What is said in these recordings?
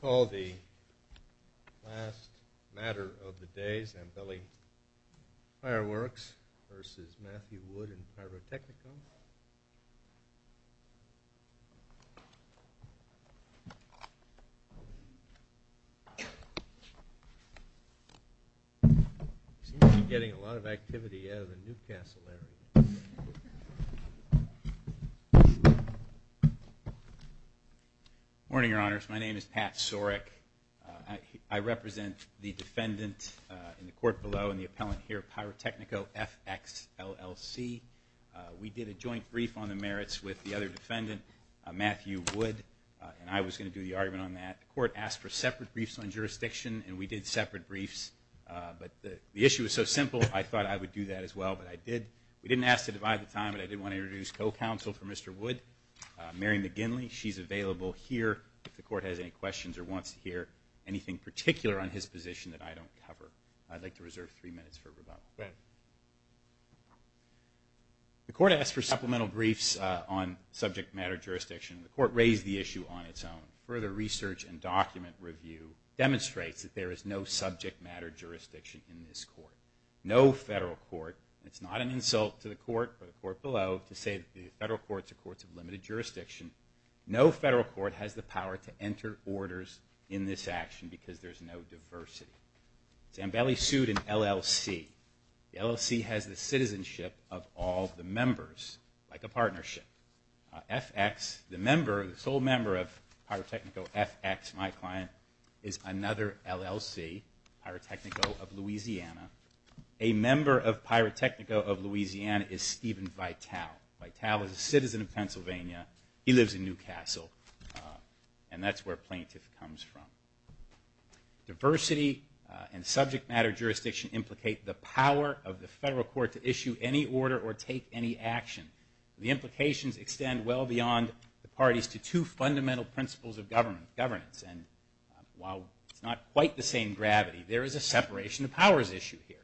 Call the last matter of the day, Zambelli Fireworks v. Matthew Wood in pyrotechnicum. Seems to be getting a lot of activity out of the Newcastle area. Morning, Your Honors. My name is Pat Sorek. I represent the defendant in the court below and the appellant here, Pyrotechnico FX LLC. We did a joint brief on the merits with the other defendant, Matthew Wood, and I was going to do the argument on that. The court asked for separate briefs on jurisdiction, and we did separate briefs, but the issue was so simple, I thought I would do that as well, but I did. We didn't ask to divide the time, but I did want to introduce co-counsel for Mr. Wood, Mary McGinley. She's available here if the court has any questions or wants to hear anything particular on his position that I don't cover. I'd like to reserve three minutes for rebuttal. Go ahead. The court asked for supplemental briefs on subject matter jurisdiction. The court raised the issue on its own. Further research and document review demonstrates that there is no subject matter jurisdiction in this court. No federal court, and it's not an insult to the court or the court below to say that the federal courts are courts of limited jurisdiction, no federal court has the power to enter orders in this action because there's no diversity. Zambelli sued an LLC. The LLC has the citizenship of all the members, like a partnership. FX, the sole member of Pyrotechnico FX, my client, is another LLC, Pyrotechnico of Louisiana. A member of Pyrotechnico of Louisiana is Steven Vitale. Vitale is a citizen of Pennsylvania. He lives in New Castle, and that's where plaintiff comes from. Diversity and subject matter jurisdiction implicate the power of the federal court to issue any order or take any action. The implications extend well beyond the parties to two fundamental principles of governance, and while it's not quite the same gravity, there is a separation of powers issue here.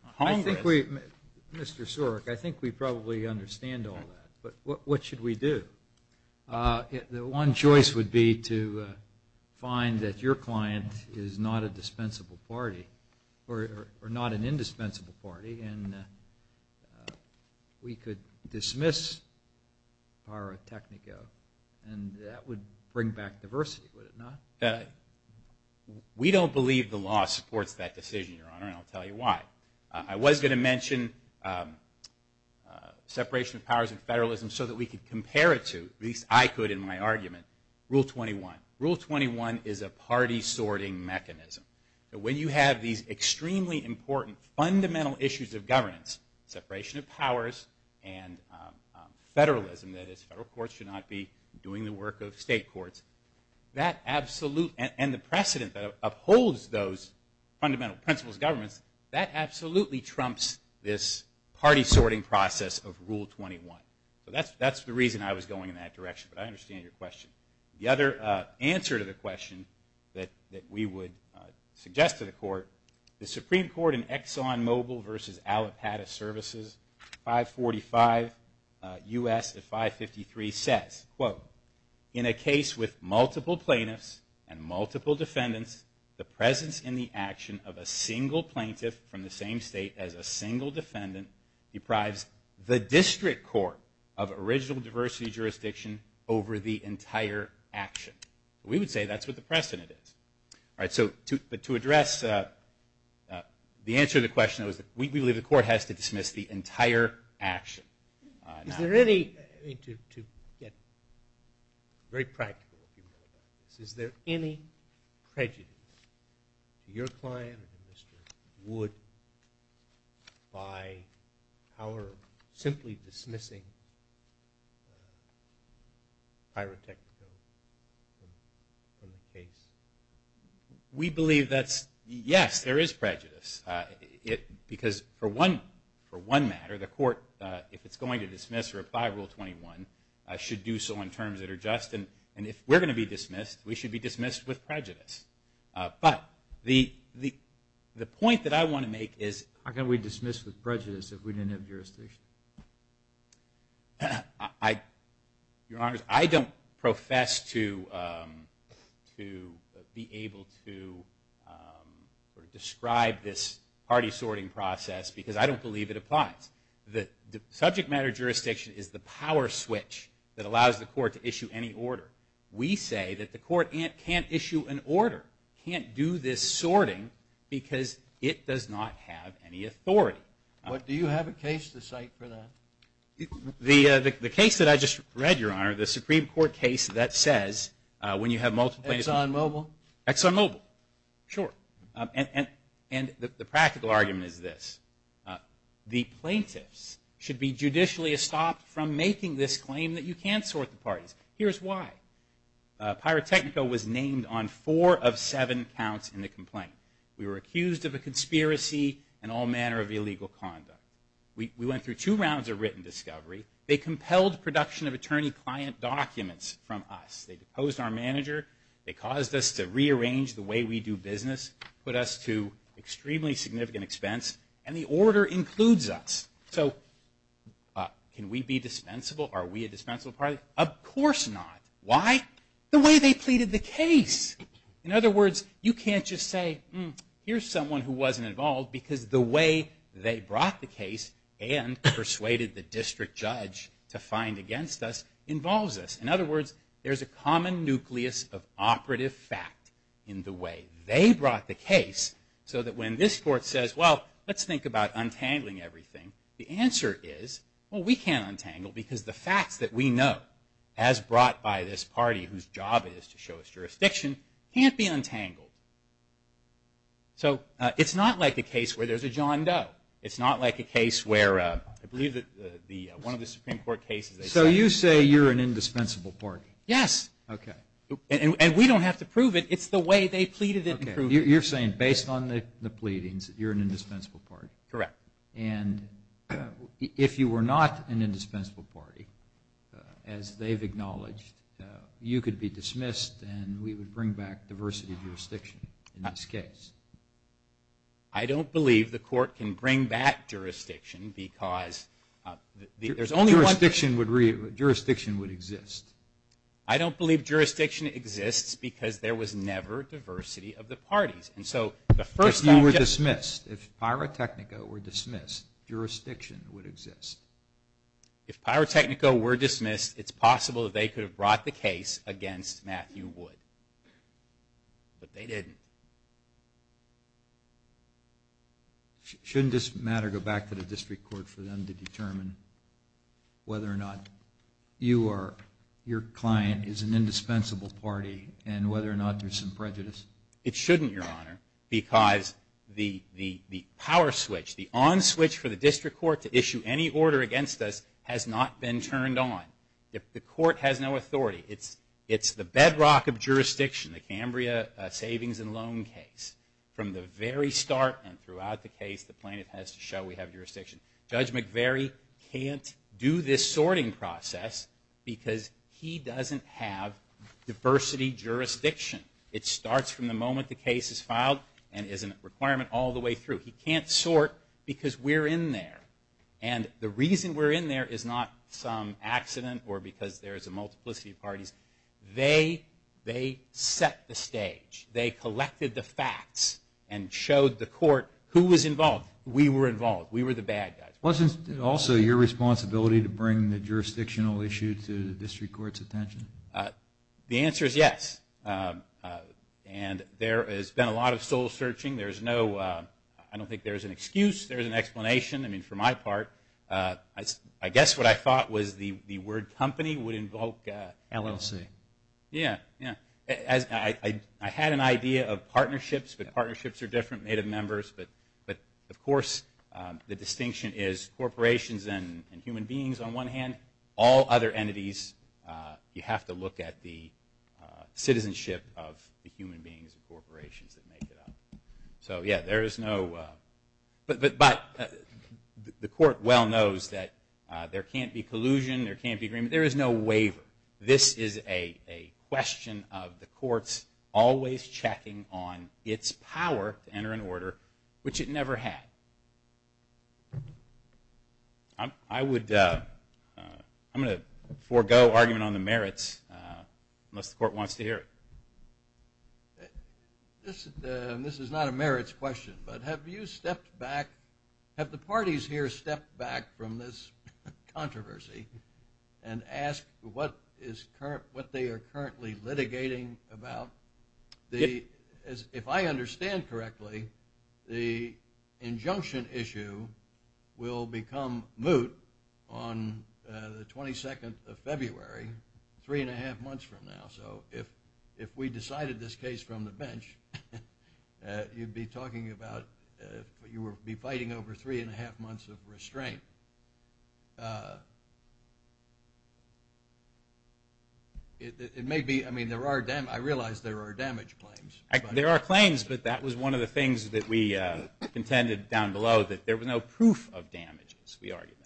Mr. Sorek, I think we probably understand all that, but what should we do? One choice would be to find that your client is not a dispensable party or not an indispensable party, and we could dismiss Pyrotechnico, and that would bring back diversity, would it not? We don't believe the law supports that decision, Your Honor, and I'll tell you why. I was going to mention separation of powers and federalism so that we could compare it to, at least I could in my argument, Rule 21. Rule 21 is a party sorting mechanism. When you have these extremely important fundamental issues of governance, separation of powers and federalism, that is federal courts should not be doing the work of state courts, and the precedent that upholds those fundamental principles of governance, that absolutely trumps this party sorting process of Rule 21. That's the reason I was going in that direction, but I understand your question. The other answer to the question that we would suggest to the Court, the Supreme Court in ExxonMobil v. Allapattah Services, 545 U.S. 553 says, quote, in a case with multiple plaintiffs and multiple defendants, the presence in the action of a single plaintiff from the same state as a single defendant deprives the district court of original diversity jurisdiction over the entire action. We would say that's what the precedent is. But to address the answer to the question, we believe the Court has to dismiss the entire action. Is there any, to get very practical, is there any prejudice to your client or to Mr. Wood by our simply dismissing pyrotechnics from the case? We believe that's, yes, there is prejudice because for one matter, the Court, if it's going to dismiss or apply Rule 21, should do so in terms that are just. And if we're going to be dismissed, we should be dismissed with prejudice. But the point that I want to make is- How can we dismiss with prejudice if we didn't have jurisdiction? Your Honors, I don't profess to be able to describe this party sorting process because I don't believe it applies. The subject matter jurisdiction is the power switch that allows the Court to issue any order. We say that the Court can't issue an order, can't do this sorting because it does not have any authority. Do you have a case to cite for that? The case that I just read, Your Honor, the Supreme Court case that says when you have multiple- ExxonMobil? ExxonMobil, sure. And the practical argument is this. The plaintiffs should be judicially stopped from making this claim that you can't sort the parties. Here's why. Pyrotechnico was named on four of seven counts in the complaint. We were accused of a conspiracy and all manner of illegal conduct. We went through two rounds of written discovery. They compelled production of attorney-client documents from us. They deposed our manager. They caused us to rearrange the way we do business, put us to extremely significant expense, and the order includes us. So can we be dispensable? Are we a dispensable party? Of course not. Why? The way they pleaded the case. In other words, you can't just say, here's someone who wasn't involved because the way they brought the case and persuaded the district judge to find against us involves us. In other words, there's a common nucleus of operative fact in the way they brought the case so that when this court says, well, let's think about untangling everything, the answer is, well, we can't untangle because the facts that we know, as brought by this party whose job it is to show us jurisdiction, can't be untangled. So it's not like a case where there's a John Doe. It's not like a case where, I believe, one of the Supreme Court cases. So you say you're an indispensable party? Yes. Okay. And we don't have to prove it. It's the way they pleaded it. You're saying, based on the pleadings, you're an indispensable party? Correct. And if you were not an indispensable party, as they've acknowledged, you could be dismissed and we would bring back diversity of jurisdiction in this case? I don't believe the court can bring back jurisdiction because there's only one. Jurisdiction would exist. I don't believe jurisdiction exists because there was never diversity of the parties. If you were dismissed, if pyrotechnica were dismissed, jurisdiction would exist. If pyrotechnica were dismissed, it's possible they could have brought the case against Matthew Wood. But they didn't. Shouldn't this matter go back to the district court for them to determine whether or not you or your client is an indispensable party and whether or not there's some prejudice? It shouldn't, Your Honor, because the power switch, the on switch for the district court to issue any order against us has not been turned on. The court has no authority. It's the bedrock of jurisdiction, the Cambria savings and loan case. From the very start and throughout the case, the plaintiff has to show we have jurisdiction. Judge McVeary can't do this sorting process because he doesn't have diversity jurisdiction. It starts from the moment the case is filed and is a requirement all the way through. He can't sort because we're in there. The reason we're in there is not some accident or because there's a multiplicity of parties. They set the stage. They collected the facts and showed the court who was involved. We were involved. We were the bad guys. Wasn't it also your responsibility to bring the jurisdictional issue to the district court's attention? The answer is yes. There has been a lot of soul searching. I don't think there's an excuse. There's an explanation. For my part, I guess what I thought was the word company would invoke LLC. I had an idea of partnerships, but partnerships are different, made of members. Of course, the distinction is corporations and human beings on one hand. All other entities, you have to look at the citizenship of the human beings and corporations that make it up. But the court well knows that there can't be collusion. There can't be agreement. There is no waiver. This is a question of the courts always checking on its power to enter an order, which it never had. I'm going to forego argument on the merits unless the court wants to hear it. This is not a merits question, but have the parties here stepped back from this controversy and asked what they are currently litigating about? If I understand correctly, the injunction issue will become moot on the 22nd of February, three and a half months from now. So if we decided this case from the bench, you'd be fighting over three and a half months of restraint. I realize there are damage claims. There are claims, but that was one of the things that we contended down below, that there was no proof of damages. We argued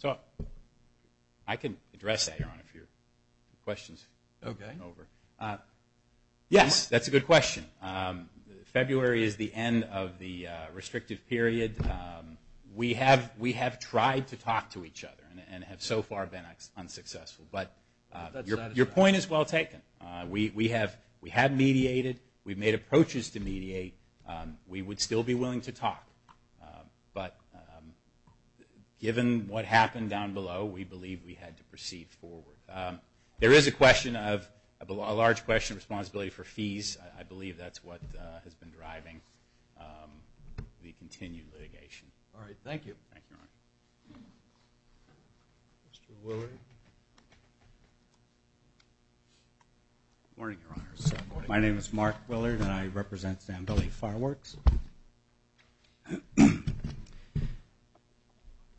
that. I can address that, Your Honor, if you have questions. Yes, that's a good question. February is the end of the restrictive period. We have tried to talk to each other and have so far been unsuccessful. But your point is well taken. We have mediated. We've made approaches to mediate. We would still be willing to talk. But given what happened down below, we believe we had to proceed forward. There is a large question of responsibility for fees. I believe that's what has been driving the continued litigation. All right, thank you. Thank you, Your Honor. Mr. Willard. Good morning, Your Honor. My name is Mark Willard, and I represent San Billy Fireworks.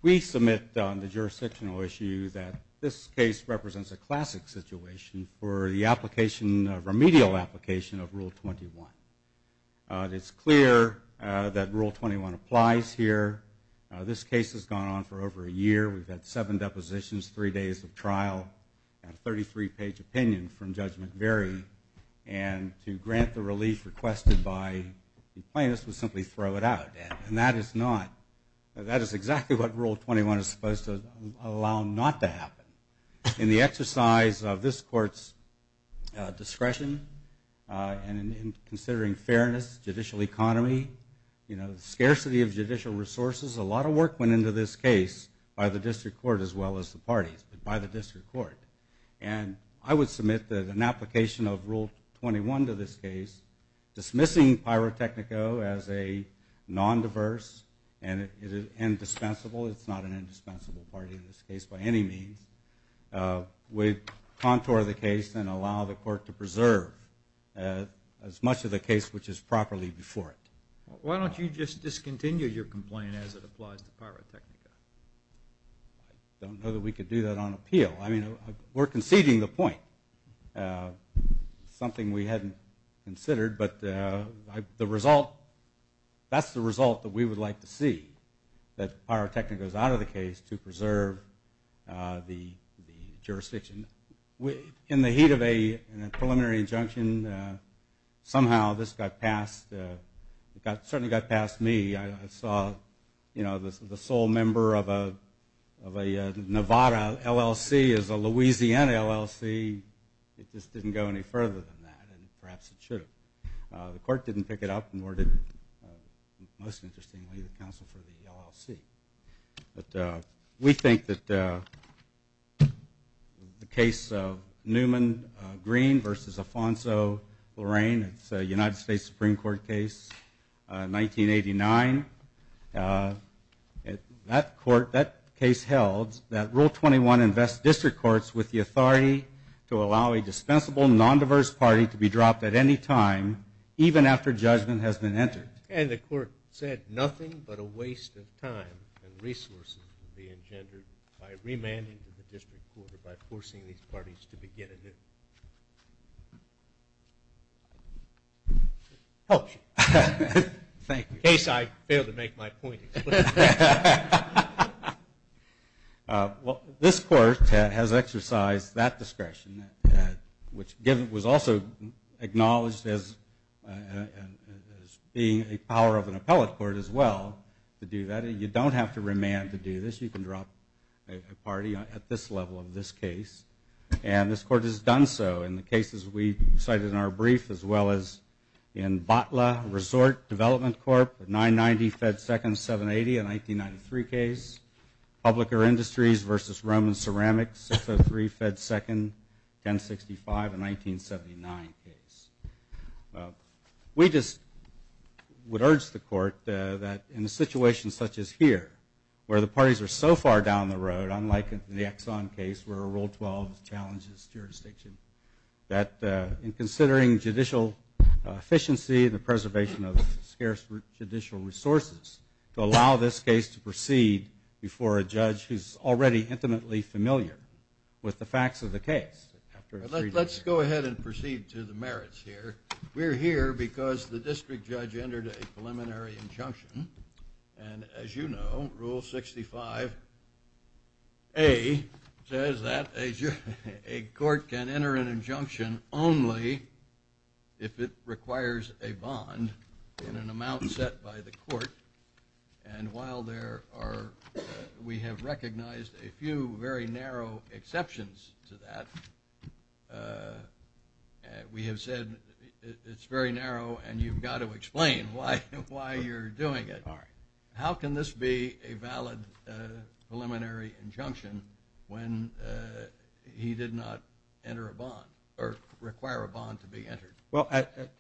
We submit the jurisdictional issue that this case represents a classic situation for the remedial application of Rule 21. It's clear that Rule 21 applies here. This case has gone on for over a year. I have a 33-page opinion from Judge McVeary, and to grant the relief requested by the plaintiffs would simply throw it out. That is exactly what Rule 21 is supposed to allow not to happen. In the exercise of this Court's discretion and in considering fairness, judicial economy, scarcity of judicial resources, a lot of work went into this case by the district court as well as the parties. It's been by the district court. And I would submit that an application of Rule 21 to this case, dismissing Pyrotechnico as a non-diverse and indispensable, it's not an indispensable party in this case by any means, would contour the case and allow the court to preserve as much of the case which is properly before it. Why don't you just discontinue your complaint as it applies to Pyrotechnico? I don't know that we could do that on appeal. I mean, we're conceding the point, something we hadn't considered. But the result, that's the result that we would like to see, that Pyrotechnico goes out of the case to preserve the jurisdiction. In the heat of a preliminary injunction, somehow this got past, it certainly got past me. I saw, you know, the sole member of a Nevada LLC is a Louisiana LLC. It just didn't go any further than that, and perhaps it should have. The court didn't pick it up, nor did, most interestingly, the counsel for the LLC. But we think that the case of Newman Green versus Alfonso Lorraine, it's a United States Supreme Court case, 1989. That court, that case held that Rule 21 invests district courts with the authority to allow a dispensable non-diverse party to be dropped at any time, even after judgment has been entered. And the court said nothing but a waste of time and resources would be engendered by remanding to the district court or by forcing these parties to begin anew. Helps you. Thank you. In case I fail to make my point explicitly. Well, this court has exercised that discretion, which was also acknowledged as being a power of an appellate court as well to do that. You don't have to remand to do this. You can drop a party at this level of this case. And this court has done so in the cases we cited in our brief, as well as in Botla Resort Development Corp., 990 Fed Second, 780, a 1993 case. Public or Industries versus Roman Ceramics, 603 Fed Second, 1065, a 1979 case. We just would urge the court that in a situation such as here, where the parties are so far down the road, unlike the Exxon case where Rule 12 challenges jurisdiction, that in considering judicial efficiency, the preservation of scarce judicial resources to allow this case to proceed before a judge who's already intimately familiar with the facts of the case. Let's go ahead and proceed to the merits here. We're here because the district judge entered a preliminary injunction. And as you know, Rule 65A says that a court can enter an injunction only if it requires a bond in an amount set by the court. And while we have recognized a few very narrow exceptions to that, we have said it's very narrow and you've got to explain why you're doing it. How can this be a valid preliminary injunction when he did not enter a bond or require a bond to be entered? Well,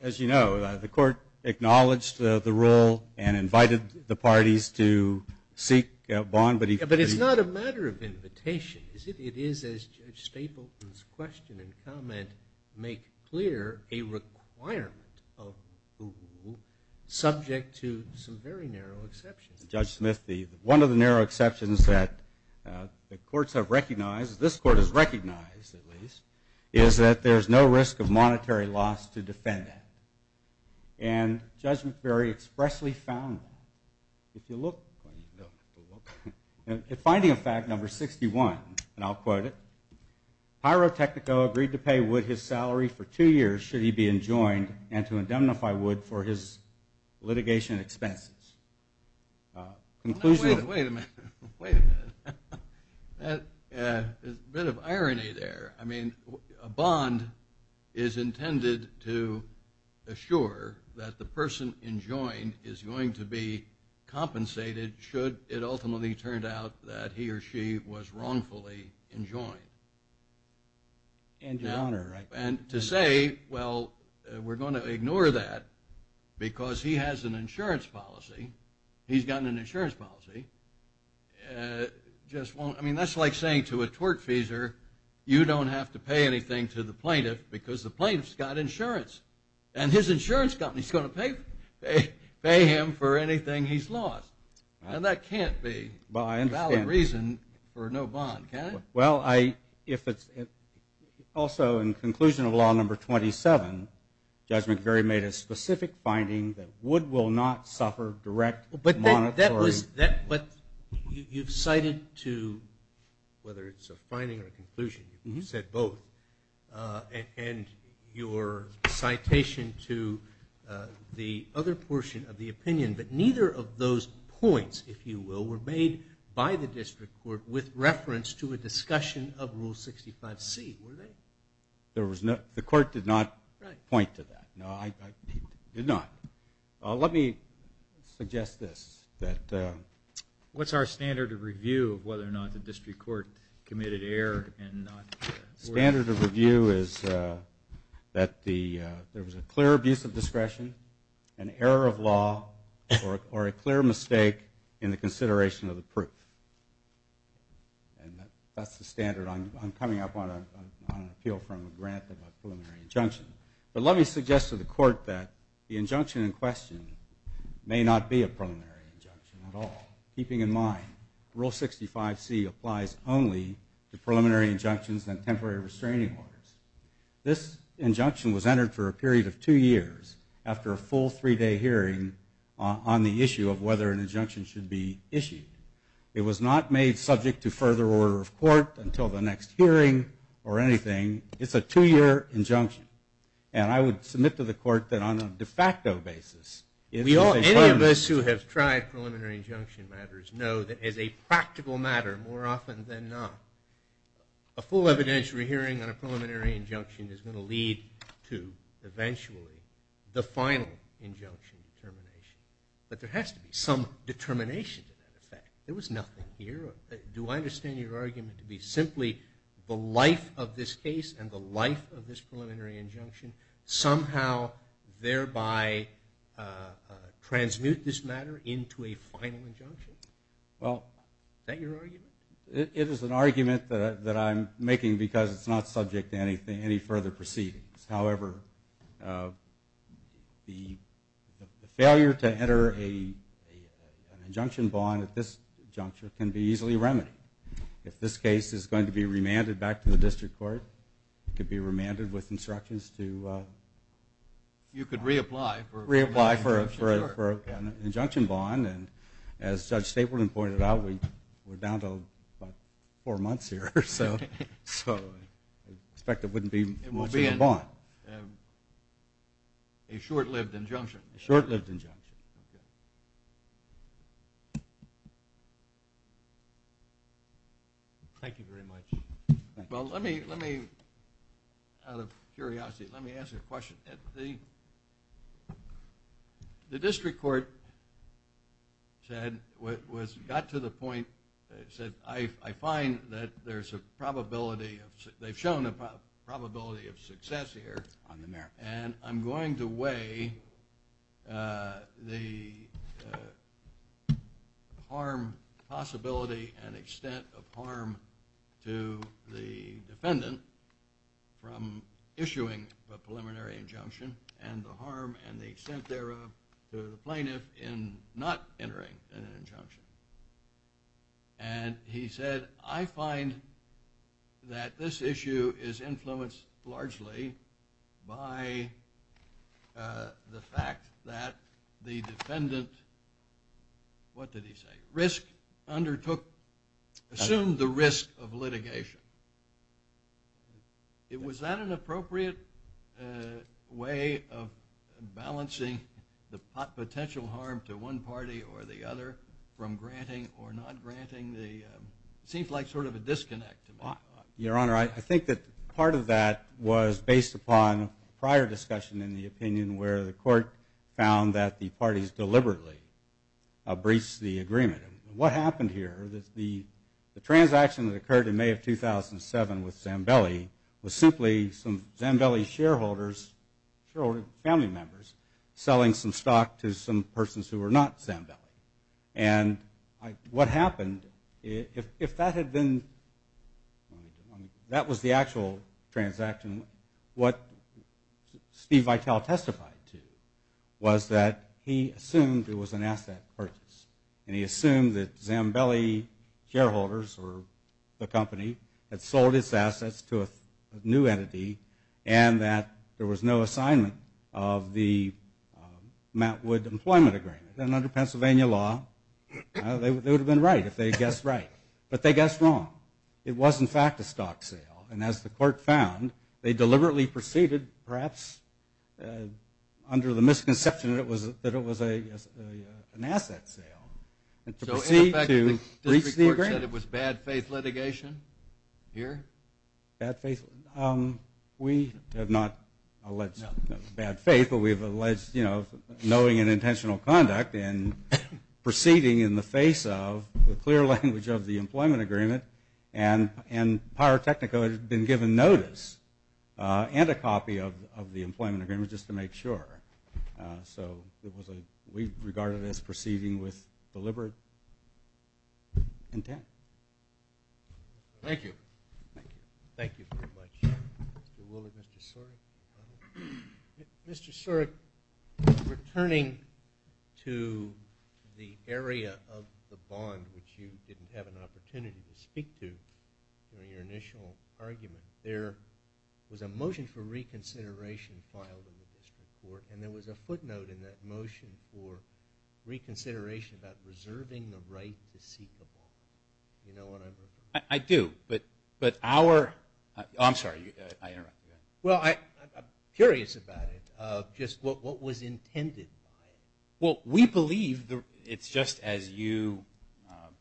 as you know, the court acknowledged the rule and invited the parties to seek a bond. But it's not a matter of invitation, is it? It is, as Judge Stapleton's question and comment make clear, a requirement of the rule subject to some very narrow exceptions. Judge Smith, one of the narrow exceptions that the courts have recognized, this court has recognized at least, is that there's no risk of monetary loss to defend that. And Judge McVeary expressly found that. In finding of fact number 61, and I'll quote it, Pyrotechnico agreed to pay Wood his salary for two years should he be enjoined and to indemnify Wood for his litigation expenses. Wait a minute, wait a minute. There's a bit of irony there. I mean, a bond is intended to assure that the person enjoined is going to be compensated should it ultimately turn out that he or she was wrongfully enjoined. And to say, well, we're going to ignore that because he has an insurance policy. He's got an insurance policy. I mean, that's like saying to a tortfeasor, you don't have to pay anything to the plaintiff because the plaintiff's got insurance. And his insurance company is going to pay him for anything he's lost. And that can't be a valid reason for no bond, can it? Well, if it's also in conclusion of law number 27, Judge McVeary made a specific finding that Wood will not suffer direct monetary. But you've cited to, whether it's a finding or a conclusion, you said both. And your citation to the other portion of the opinion, but neither of those points, if you will, were made by the district court with reference to a discussion of Rule 65C, were they? The court did not point to that. No, it did not. Let me suggest this. What's our standard of review of whether or not the district court committed error Standard of review is that there was a clear abuse of discretion, an error of law, or a clear mistake in the consideration of the proof. And that's the standard. I'm coming up on an appeal from a grant of a preliminary injunction. But let me suggest to the court that the injunction in question may not be a preliminary injunction at all. Keeping in mind, Rule 65C applies only to preliminary injunctions and temporary restraining orders. This injunction was entered for a period of two years after a full three-day hearing on the issue of whether an injunction should be issued. It was not made subject to further order of court until the next hearing or anything. It's a two-year injunction. And I would submit to the court that on a de facto basis, Any of us who have tried preliminary injunction matters know that as a practical matter, more often than not, a full evidentiary hearing on a preliminary injunction is going to lead to, eventually, the final injunction determination. But there has to be some determination to that effect. There was nothing here. Do I understand your argument to be simply the life of this case and the life of this preliminary injunction somehow thereby transmute this matter into a final injunction? Is that your argument? It is an argument that I'm making because it's not subject to any further proceedings. However, the failure to enter an injunction bond at this juncture can be easily remedied. If this case is going to be remanded back to the district court, it could be remanded with instructions to reapply for an injunction bond. And as Judge Stapleton pointed out, we're down to about four months here. So I expect it wouldn't be much of a bond. It will be a short-lived injunction. A short-lived injunction. Thank you very much. Well, let me, out of curiosity, let me ask a question. The district court said, got to the point, said, I find that there's a probability of success here. On the merit. And I'm going to weigh the harm possibility and extent of harm to the defendant from issuing a preliminary injunction and the harm and the extent thereof to the plaintiff in not entering an injunction. And he said, I find that this issue is influenced largely by the fact that the defendant, what did he say, risk undertook, assumed the risk of litigation. Was that an appropriate way of balancing the potential harm to one party or the other from granting or not granting the, seems like sort of a disconnect. Your Honor, I think that part of that was based upon prior discussion in the opinion where the court found that the parties deliberately breached the agreement. What happened here, the transaction that occurred in May of 2007 with Zambelli, was simply some Zambelli shareholders, family members, selling some stock to some persons who were not Zambelli. And what happened, if that had been, that was the actual transaction, what Steve Vitale testified to was that he assumed it was an asset purchase. And he assumed that Zambelli shareholders or the company had sold its assets to a new entity and that there was no assignment of the Mountwood Employment Agreement. And under Pennsylvania law, they would have been right if they had guessed right. But they guessed wrong. It was, in fact, a stock sale. And as the court found, they deliberately proceeded, perhaps under the misconception that it was an asset sale, to proceed to breach the agreement. So, in effect, the district court said it was bad faith litigation here? Bad faith? We have not alleged bad faith, but we have alleged, you know, knowing and intentional conduct in proceeding in the face of the clear language of the employment agreement. And Pyrotechnico had been given notice and a copy of the employment agreement just to make sure. So, we regarded it as proceeding with deliberate intent. Thank you. Thank you. Thank you very much, Mr. Woolard. Mr. Sorek. Mr. Sorek, returning to the area of the bond, which you didn't have an opportunity to speak to during your initial argument, there was a motion for reconsideration filed in the district court. And there was a footnote in that motion for reconsideration about reserving the right to seek a bond. Do you know what I'm referring to? I do. But our – oh, I'm sorry. I interrupted you. Well, I'm curious about it, just what was intended by it. Well, we believe it's just as you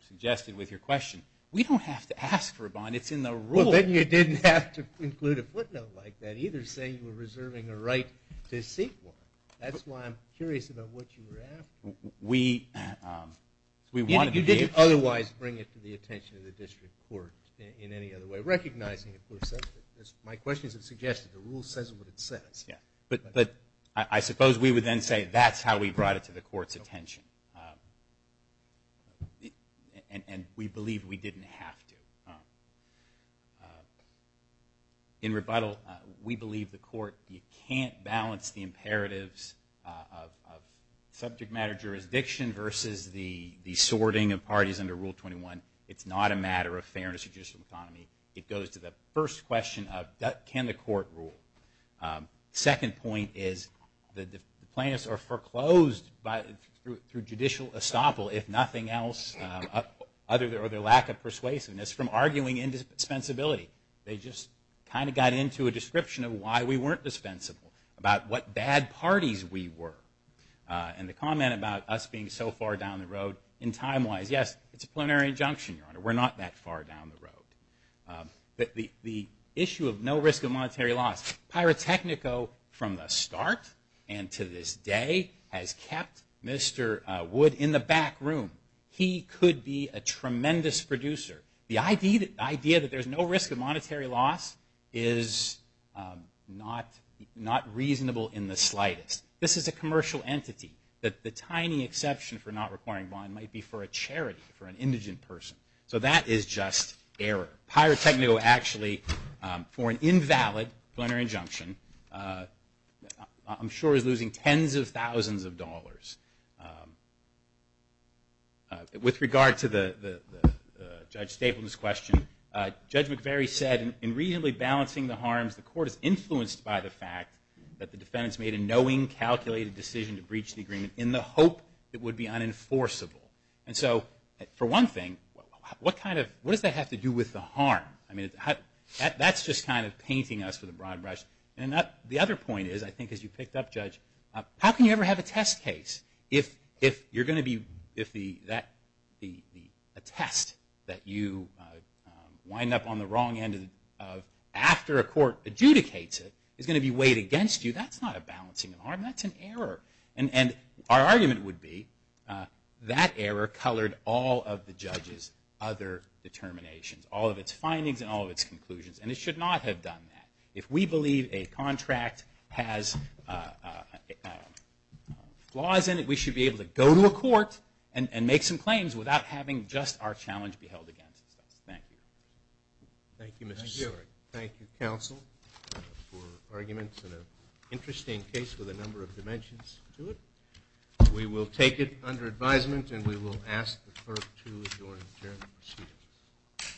suggested with your question. We don't have to ask for a bond. It's in the rule. Well, then you didn't have to include a footnote like that, and neither say you were reserving a right to seek one. That's why I'm curious about what you were asking. We wanted to give – You didn't otherwise bring it to the attention of the district court in any other way, recognizing, of course, that my questions have suggested the rule says what it says. But I suppose we would then say that's how we brought it to the court's attention. And we believe we didn't have to. In rebuttal, we believe the court can't balance the imperatives of subject matter jurisdiction versus the sorting of parties under Rule 21. It's not a matter of fairness or judicial autonomy. It goes to the first question of can the court rule. The second point is the plaintiffs are foreclosed through judicial estoppel, if nothing else, or their lack of persuasiveness from arguing indispensability. They just kind of got into a description of why we weren't dispensable, about what bad parties we were. And the comment about us being so far down the road in time wise, yes, it's a plenary injunction, Your Honor. We're not that far down the road. The issue of no risk of monetary loss. Pyrotechnico from the start and to this day has kept Mr. Wood in the back room. He could be a tremendous producer. The idea that there's no risk of monetary loss is not reasonable in the slightest. This is a commercial entity. The tiny exception for not requiring bond might be for a charity, for an indigent person. So that is just error. Pyrotechnico actually, for an invalid plenary injunction, I'm sure is losing tens of thousands of dollars. With regard to Judge Stapleman's question, Judge McVeary said, in reasonably balancing the harms, the court is influenced by the fact that the defendants made a knowing, calculated decision to breach the agreement in the hope it would be unenforceable. And so, for one thing, what does that have to do with the harm? I mean, that's just kind of painting us with a broad brush. And the other point is, I think as you picked up, Judge, how can you ever have a test case? If you're going to be, if a test that you wind up on the wrong end of after a court adjudicates it, is going to be weighed against you, that's not a balancing of harm. That's an error. And our argument would be that error colored all of the judge's other determinations, all of its findings and all of its conclusions. And it should not have done that. If we believe a contract has flaws in it, we should be able to go to a court and make some claims without having just our challenge be held against us. Thank you. Thank you, Mr. Seward. Thank you, counsel, for arguments and an interesting case with a number of dimensions to it. We will take it under advisement and we will ask the clerk to adjourn the proceedings.